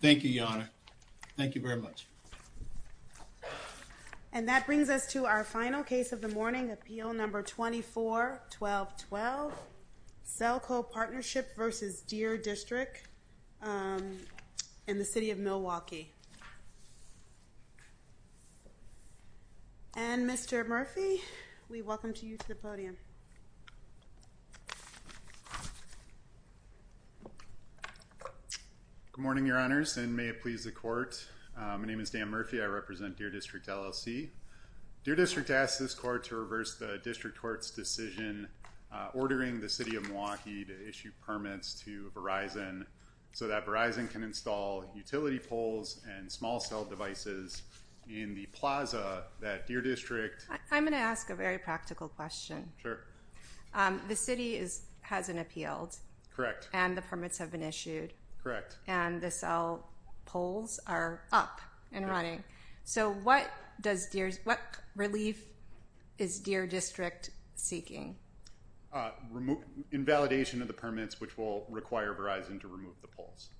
Thank you, Your Honor. Thank you very much. And that brings us to our final case of the morning, Appeal No. 24-1212, Selco Partnership v. Deer District in the City of Milwaukee. And Mr. Murphy, we welcome you to the podium. Good morning, Your Honors, and may it please the Court. My name is Dan Murphy. I represent Deer District LLC. Deer District asks this Court to reverse the District Court's decision ordering the City of Milwaukee to issue permits to Verizon so that Verizon can install utility poles and small cell devices in the plaza that Deer District... I'm going to ask a very practical question. Sure. The City has an appeal. Correct. And the permits have been issued. Correct. And the cell poles are up and running. So what relief is Deer District seeking? Invalidation of the permits, which will require Verizon to remove the poles.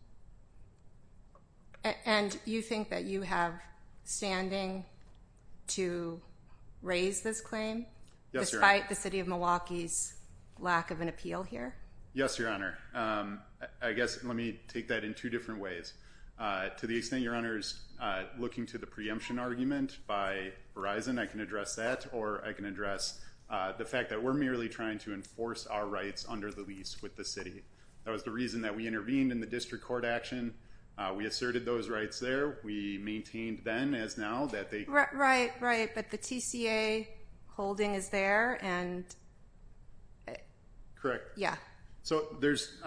And you think that you have standing to raise this claim? Yes, Your Honor. Despite the City of Milwaukee's lack of an appeal here? Yes, Your Honor. I guess let me take that in two different ways. To the extent Your Honor is looking to the preemption argument by Verizon, I can address that, or I can address the fact that we're merely trying to enforce our rights under the lease with the City. That was the reason that we intervened in the District Court action. We asserted those rights there. We maintained then, as now, that they... Right, right, but the TCA holding is there, and... Correct. Yeah. So there's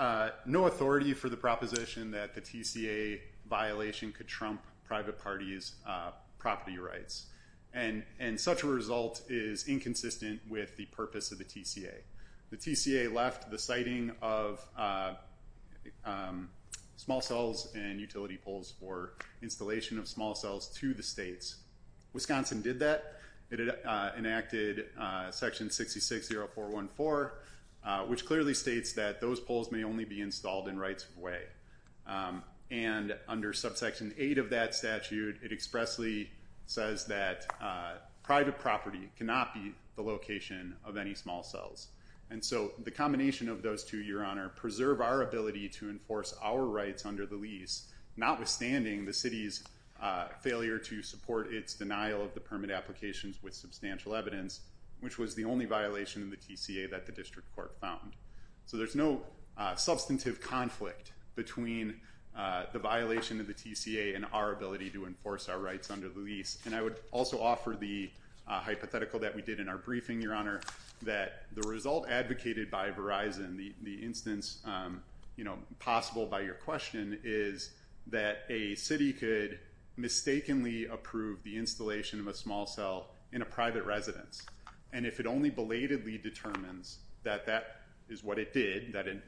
no authority for the proposition that the TCA violation could trump private parties' property rights. And such a result is inconsistent with the purpose of the TCA. The TCA left the siting of small cells and utility poles, or installation of small cells, to the states. Wisconsin did that. It enacted Section 660414, which clearly states that those poles may only be installed in rights of way. And under Subsection 8 of that statute, it expressly says that private property cannot be the location of any small cells. And so the combination of those two, Your Honor, preserve our ability to enforce our rights under the lease, notwithstanding the City's failure to support its denial of the permit applications with substantial evidence, which was the only violation of the TCA that the District Court found. So there's no substantive conflict between the violation of the TCA and our ability to enforce our rights under the lease. And I would also offer the hypothetical that we did in our briefing, Your Honor, that the result advocated by Verizon, the instance possible by your question, is that a city could mistakenly approve the installation of a small cell in a private residence. And if it only belatedly determines that that is what it did, that it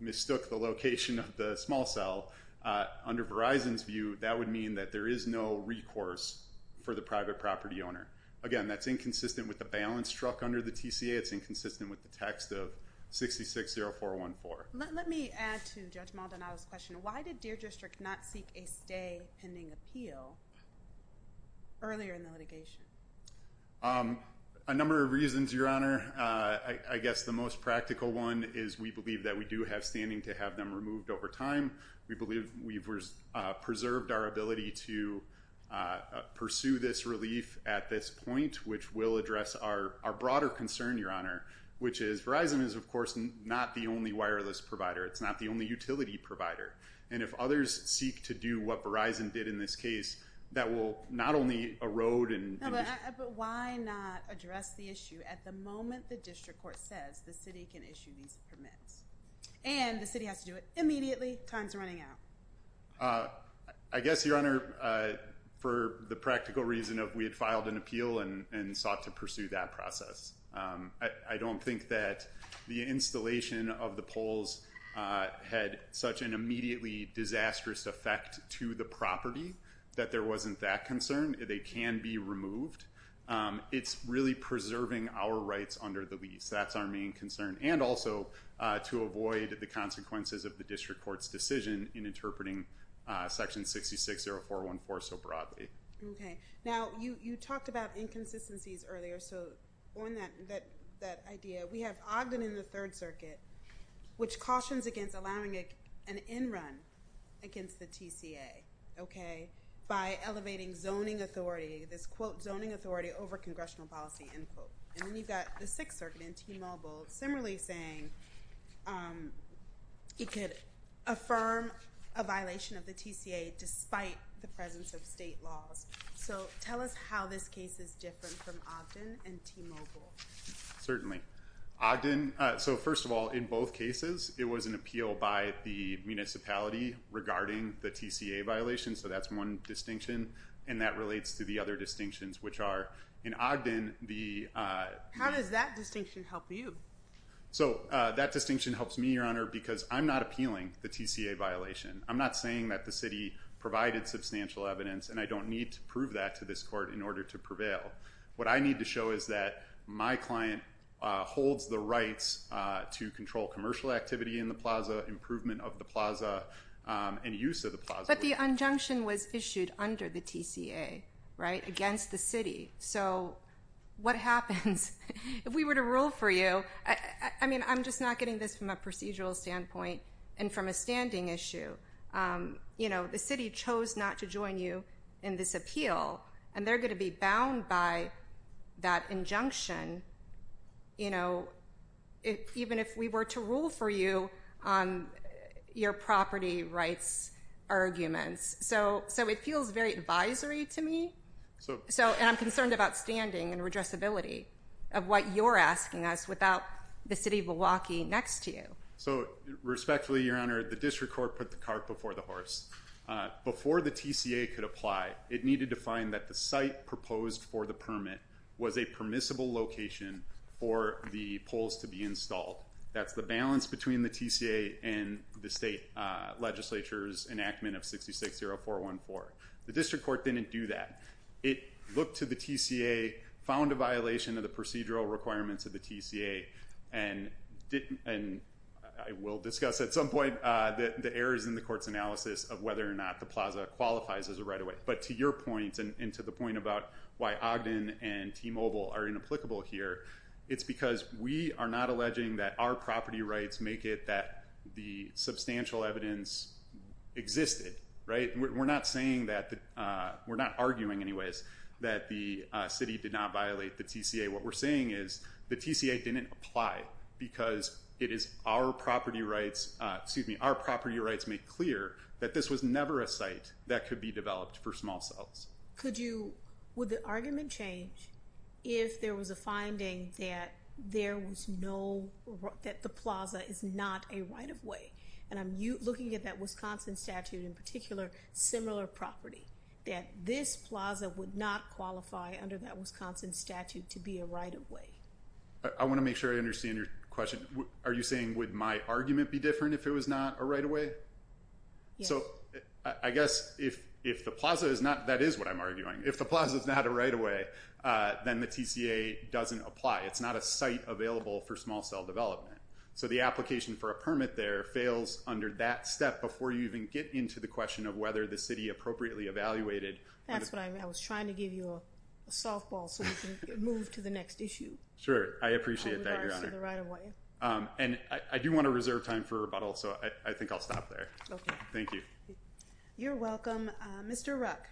mistook the location of the small cell, under Verizon's view, that would mean that there is no recourse for the private property owner. Again, that's inconsistent with the balance struck under the TCA. It's inconsistent with the text of 660414. Let me add to Judge Maldonado's question. Why did Deer District not seek a stay pending appeal earlier in the litigation? A number of reasons, Your Honor. I guess the most practical one is we believe that we do have standing to have them removed over time. We believe we've preserved our ability to pursue this relief at this point, which will address our broader concern, Your Honor, which is Verizon is, of course, not the only wireless provider. It's not the only utility provider. And if others seek to do what Verizon did in this case, that will not only erode and... But why not address the issue at the moment the District Court says the city can issue these permits? And the city has to do it immediately. Time's running out. I guess, Your Honor, for the practical reason of we had filed an appeal and sought to pursue that process. I don't think that the installation of the poles had such an immediately disastrous effect to the property that there wasn't that concern. They can be removed. It's really preserving our rights under the lease. That's our main concern. And also to avoid the consequences of the District Court's decision in interpreting Section 660414 so broadly. Okay. Now, you talked about inconsistencies earlier. That idea. We have Ogden in the Third Circuit, which cautions against allowing an end run against the TCA, okay? By elevating zoning authority, this, quote, zoning authority over congressional policy, end quote. And then you've got the Sixth Circuit in T-Mobile, similarly saying it could affirm a violation of the TCA despite the presence of state laws. So tell us how this case is different from Ogden and T-Mobile. Certainly. Ogden, so first of all, in both cases, it was an appeal by the municipality regarding the TCA violation. So that's one distinction. And that relates to the other distinctions, which are in Ogden the... How does that distinction help you? So that distinction helps me, Your Honor, because I'm not appealing the TCA violation. I'm not saying that the city provided substantial evidence and I don't need to prove that to this court in order to prevail. What I need to show is that my client holds the rights to control commercial activity in the plaza, improvement of the plaza, and use of the plaza. But the injunction was issued under the TCA, right? Against the city. So what happens if we were to rule for you? I mean, I'm just not getting this from a procedural standpoint and from a standing issue. You know, the city chose not to join you in this appeal, and they're going to be bound by that injunction, you know, even if we were to rule for you on your property rights arguments. So it feels very advisory to me. And I'm concerned about standing and redressability of what you're asking us without the city of Milwaukee next to you. So respectfully, Your Honor, the district court put the cart before the horse. Before the TCA could apply, it needed to find that the site proposed for the permit was a permissible location for the poles to be installed. That's the balance between the TCA and the state legislature's enactment of 660414. The district court didn't do that. It looked to the TCA, found a violation of the procedural requirements of the TCA, and I will discuss at some point the errors in the court's analysis of whether or not the plaza qualifies as a right-of-way. But to your point, and to the point about why Ogden and T-Mobile are inapplicable here, it's because we are not alleging that our property rights make it that the substantial evidence existed, right? We're not saying that, we're not arguing anyways, that the city did not violate the TCA. What we're saying is the TCA didn't apply because it is our property rights, and our property rights make clear that this was never a site that could be developed for small cells. Could you, would the argument change if there was a finding that there was no, that the plaza is not a right-of-way? And I'm looking at that Wisconsin statute in particular, similar property, that this plaza would not qualify under that Wisconsin statute to be a right-of-way. I want to make sure I understand your question. Are you saying would my argument be different if the plaza is not a right-of-way? So I guess if the plaza is not, that is what I'm arguing, if the plaza is not a right-of-way, then the TCA doesn't apply. It's not a site available for small cell development. So the application for a permit there fails under that step before you even get into the question of whether the city appropriately evaluated. That's what I meant. I was trying to give you a softball so we can move to the next issue. Sure, I appreciate that, Your Honor. In regards to the right-of-way. I think I'll stop there. Thank you. You're welcome. Mr. Ruck.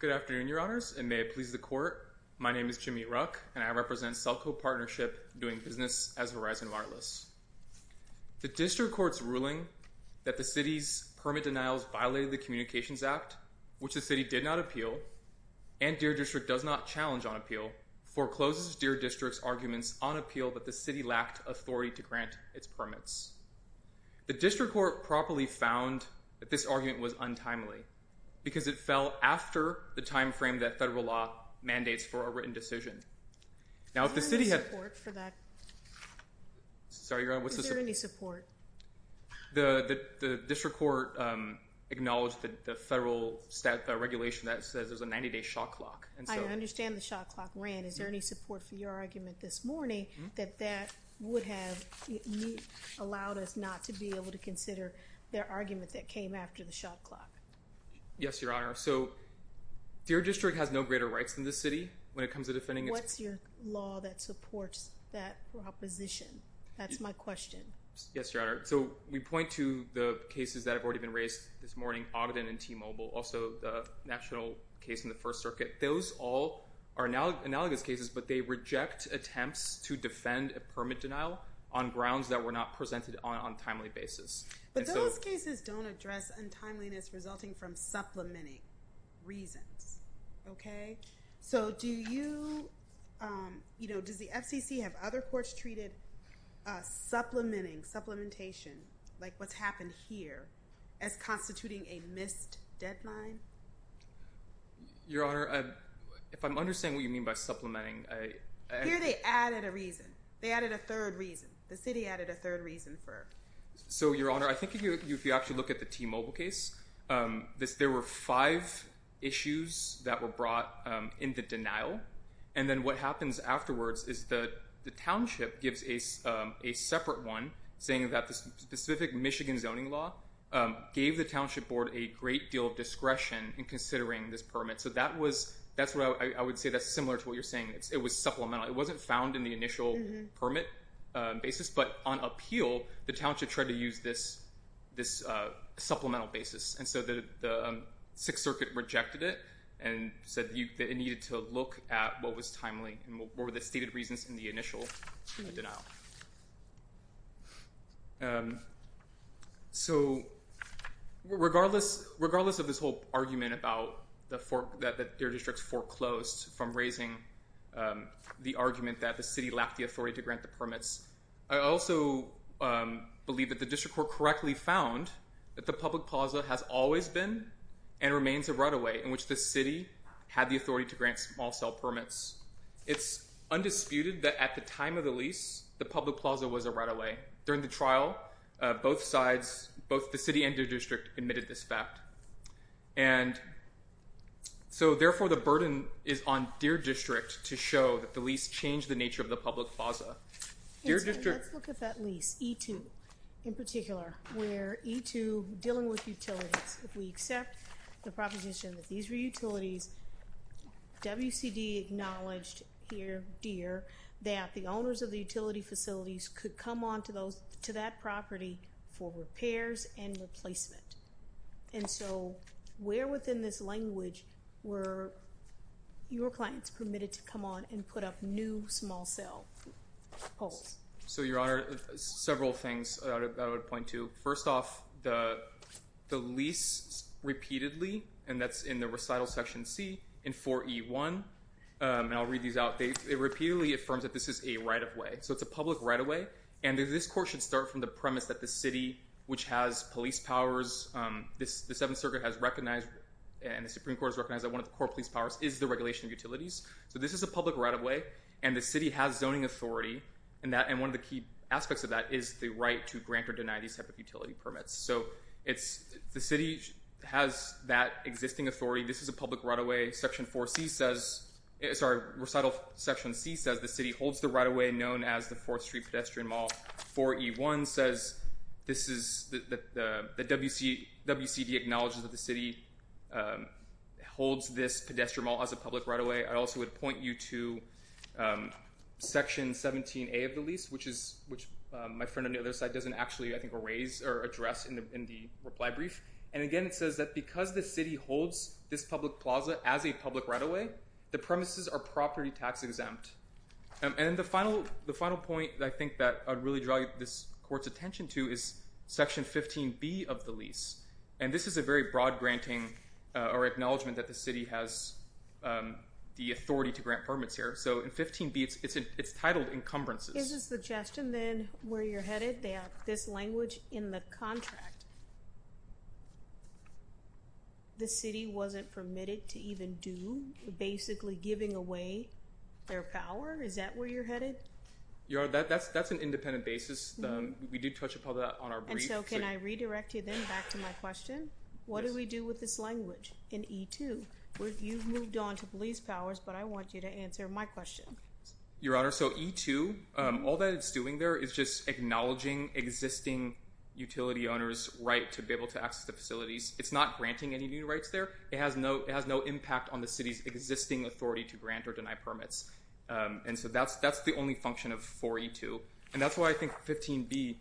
Good afternoon, Your Honors, and may it please the Court. My name is Jameet Ruck, and I represent Celco Partnership doing business as Horizon Wireless. The district court's ruling that Horizon Wireless violated the Communications Act, which the city did not appeal, and Deer District does not challenge on appeal, forecloses Deer District's arguments on appeal that the city lacked authority to grant its permits. The district court properly found that this argument was untimely because it fell after the time frame that federal law mandates for a written decision. Now if the city had... Is there any support for that? Sorry, Your Honor, what's the... Is there any support? I just want to acknowledge the federal regulation that says there's a 90-day shot clock, and so... I understand the shot clock ran. Is there any support for your argument this morning that that would have allowed us not to be able to consider their argument that came after the shot clock? Yes, Your Honor. So Deer District has no greater rights than the city when it comes to defending its... What's your law that supports that proposition? That's my question. Yes, Your Honor. The two cases this morning, Ogden and T-Mobile, also the national case in the First Circuit, those all are analogous cases, but they reject attempts to defend a permit denial on grounds that were not presented on a timely basis. But those cases don't address untimeliness resulting from supplementing reasons, okay? So do you... Does the FCC have other courts treated supplementing, supplementation, like what's happened here, like substituting a missed deadline? Your Honor, if I'm understanding what you mean by supplementing, I... Here they added a reason. They added a third reason. The city added a third reason for... So, Your Honor, I think if you actually look at the T-Mobile case, there were five issues that were brought in the denial, and then what happens afterwards is the township gives a separate one saying that the specific Michigan zoning law should board a great deal of discretion in considering this permit. So that's what I would say that's similar to what you're saying. It was supplemental. It wasn't found in the initial permit basis, but on appeal, the township tried to use this supplemental basis. And so the Sixth Circuit rejected it and said that it needed to look at what was timely and what were the stated reasons in the initial denial. So, regardless of this whole argument about that their district's foreclosed from raising the argument that the city lacked the authority to grant the permits, I also believe that the district court correctly found that the public plaza has always been and remains a right-of-way in which the city had the authority to grant small-cell permits. It's undisputed that at the time of the lease, the public plaza was a right-of-way. During the trial, both sides, both the city and their district admitted this fact. And so, therefore, the burden is on their district to show that the lease changed the nature of the public plaza. Let's look at that lease, E2, in particular, where E2, dealing with utilities, if we accept the proposition that these were utilities, WCD acknowledged here, Deere, that the owners of the utility facilities could come on to that property for repairs and replacement. And so, where within this language were your clients permitted to come on and put up new small-cell poles? So, Your Honor, several things I would point to. First off, the lease repeatedly, and that's in the recital section C, in 4E1, and I'll read these out. It affirms that this is a right-of-way. So, it's a public right-of-way, and this court should start from the premise that the city, which has police powers, the Seventh Circuit has recognized, and the Supreme Court has recognized that one of the core police powers is the regulation of utilities. So, this is a public right-of-way, and the city has zoning authority, and one of the key aspects of that is the right to grant or deny these type of utility permits. So, the city has that existing authority. This is a public right-of-way. The city holds the right-of-way known as the 4th Street Pedestrian Mall. 4E1 says that WCD acknowledges that the city holds this pedestrian mall as a public right-of-way. I also would point you to Section 17A of the lease, which my friend on the other side doesn't actually, I think, raise or address in the reply brief. And again, it says that because the city holds this public plaza as a public right-of-way, the premises are property tax-exempt. And then the final point that I think that I'd really draw this court's attention to is Section 15B of the lease. And this is a very broad granting or acknowledgement that the city has the authority to grant permits here. So, in 15B, it's titled encumbrances. Is the suggestion then where you're headed that this language in the contract, the city wasn't permitted to even do basically giving away their power? Is that where you're headed? Your Honor, that's an independent basis. We did touch upon that on our brief. And so can I redirect you then back to my question? What do we do with this language in E2? You've moved on to police powers, but I want you to answer my question. Your Honor, so E2, all that it's doing there is just acknowledging existing utility owners' right to be able to access the facilities. It's not granting any new rights there. It has no impact on the city's existing authority to grant or deny permits. And so that's the only function of 4E2. And that's why I think 15B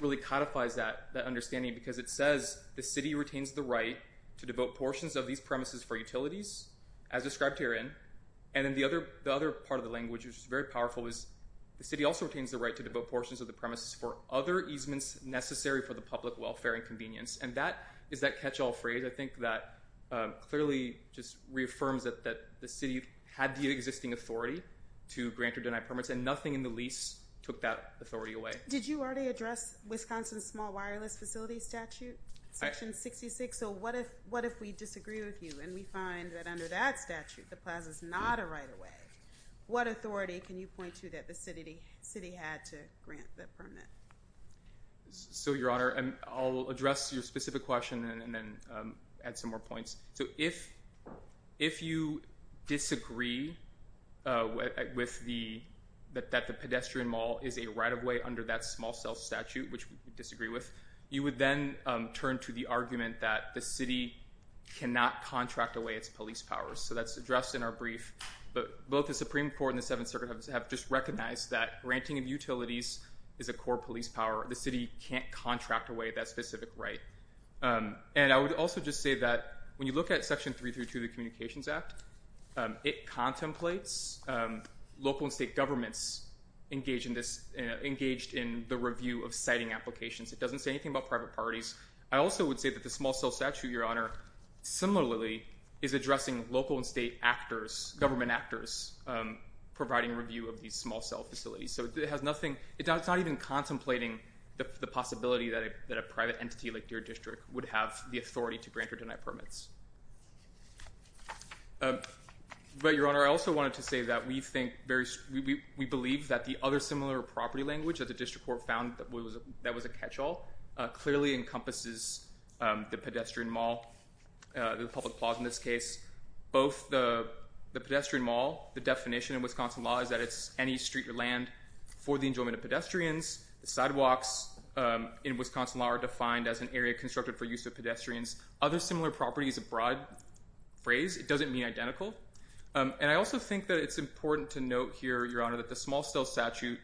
really codifies that understanding because it says the city retains the right to devote portions of these premises for utilities as described herein. And then the other part of the language, which is very powerful, is the city also retains the right to devote portions of the premises for other easements necessary for the public welfare and convenience. So that clearly just reaffirms that the city had the existing authority to grant or deny permits, and nothing in the lease took that authority away. Did you already address Wisconsin's small wireless facility statute, Section 66? So what if we disagree with you and we find that under that statute the Plaza's not a right-of-way? What authority can you point to that the city had to grant that permit? So, Your Honor, I'll address your specific question and then add some more points. So if you disagree that the pedestrian mall is a right-of-way under that small cell statute, which we disagree with, you would then turn to the argument that the city cannot contract away its police powers. So that's addressed in our brief. But both the Supreme Court and the Seventh Circuit have just recognized that granting of utilities is a core police power. The city can't contract away that specific right. And I would also just say that when you look at Section 332 of the Communications Act, it contemplates local and state governments engaged in the review of siting applications. It doesn't say anything about private parties. I also would say that the small cell statute, Your Honor, similarly is addressing local and state actors, government actors, providing review of these small cell facilities. So it has nothing, it's not even contemplating the possibility that a private entity like your district would have the authority to grant or deny permits. But, Your Honor, I also wanted to say that we believe that the other similar property language that the district court found that was a catch-all clearly encompasses the pedestrian mall, the public plaza in this case. Both the pedestrian mall, the definition in Wisconsin law is that it's any street or land for the enjoyment of pedestrians, the sidewalks in Wisconsin law are defined as an area constructed for use of pedestrians. Other similar properties, a broad phrase, it doesn't mean identical. And I also think that it's important to note here, Your Honor, that the small cell statute,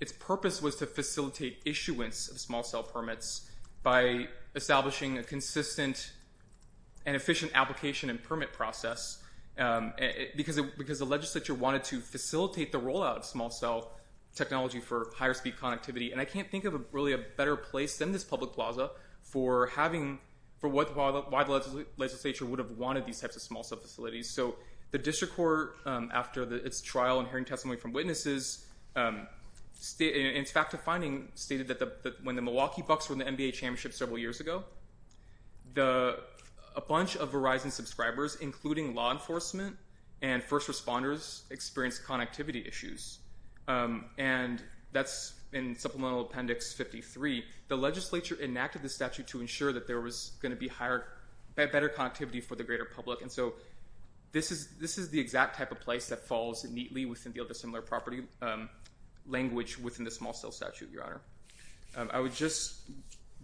its purpose was to facilitate issuance of small cell permits by establishing a consistent and efficient application and permit process because the legislature wanted to facilitate the rollout of small cell technology for higher-speed connectivity. And I can't think of really a better place than this public plaza for why the legislature would have wanted these types of small cell facilities. So the district court, after its trial and hearing testimony from witnesses, in its fact-defining, stated that when the Milwaukee Bucks won the NBA championship several years ago, a bunch of Verizon subscribers, including law enforcement and first responders, experienced connectivity issues. And that's in Supplemental Appendix 53. The legislature enacted the statute to ensure that there was going to be better connectivity for the greater public. And so this is the exact type of place that falls neatly within the other similar property language within the small cell statute, Your Honor. I would just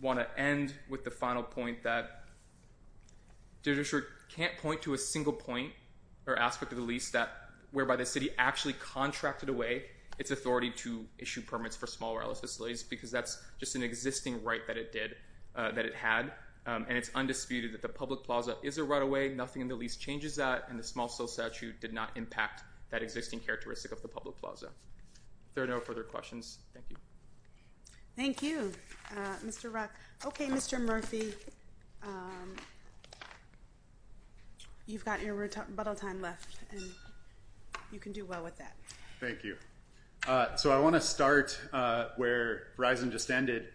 want to end with the final point that the district can't point to a single point or aspect of the lease whereby the city actually contracted away its authority to issue permits for small wireless facilities because that's just an existing right that it did, that it had, and it's undisputed that the public plaza is a right-of-way. Nothing in the lease changes that, and the small cell statute did not impact that existing characteristic of the public plaza. If there are no further questions, thank you. Thank you, Mr. Ruck. Okay, Mr. Murphy, you've got your bottle time left. You can do well with that. Thank you. So I want to start where Verizon just ended.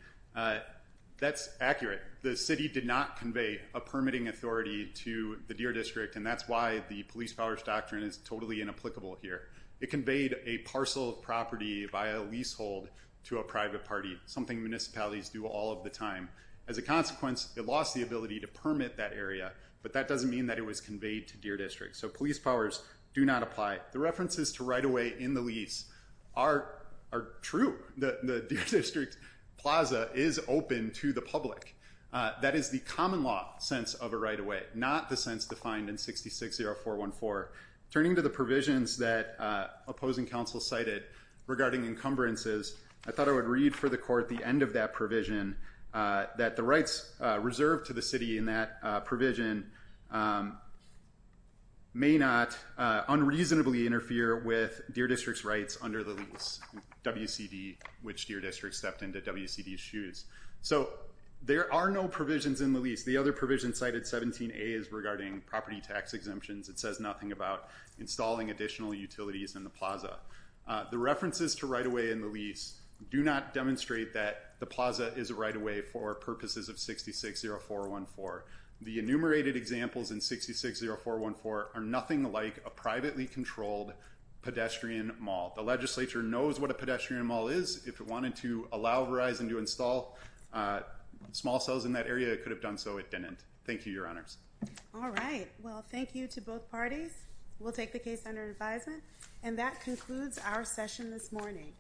That's accurate. The city did not convey a permitting authority to the Deer District, and that's why the police powers doctrine is totally inapplicable here. It conveyed a parcel of property via leasehold to a private party, something municipalities do all of the time. As a consequence, it lost the ability to permit that area, but that doesn't mean that it was conveyed to Deer District. So police powers do not apply. The references to right-of-way in the lease are true. The Deer District plaza is open to the public. That is the common law sense of a right-of-way, not the sense defined in 66-0414. Turning to the provisions that opposing counsel cited regarding encumbrances, I thought I would read for the court the end of that provision, that the rights reserved to the city in that provision may not unreasonably interfere with Deer District's rights under the lease, which Deer District stepped into WCD's shoes. So there are no provisions in the lease. The other provision cited, 17A, is regarding property tax exemptions. It says nothing about installing additional utilities in the plaza. The references to right-of-way in the lease do not demonstrate that the plaza is a right-of-way for purposes of 66-0414. The enumerated examples in 66-0414 are nothing like a privately controlled pedestrian mall. The legislature knows what a pedestrian mall is. If it wanted to allow Verizon to install small cells in that area, it could have done so. It didn't. Thank you, Your Honors. All right. Well, thank you to both parties. We'll take the case under advisement. And that concludes our session this morning.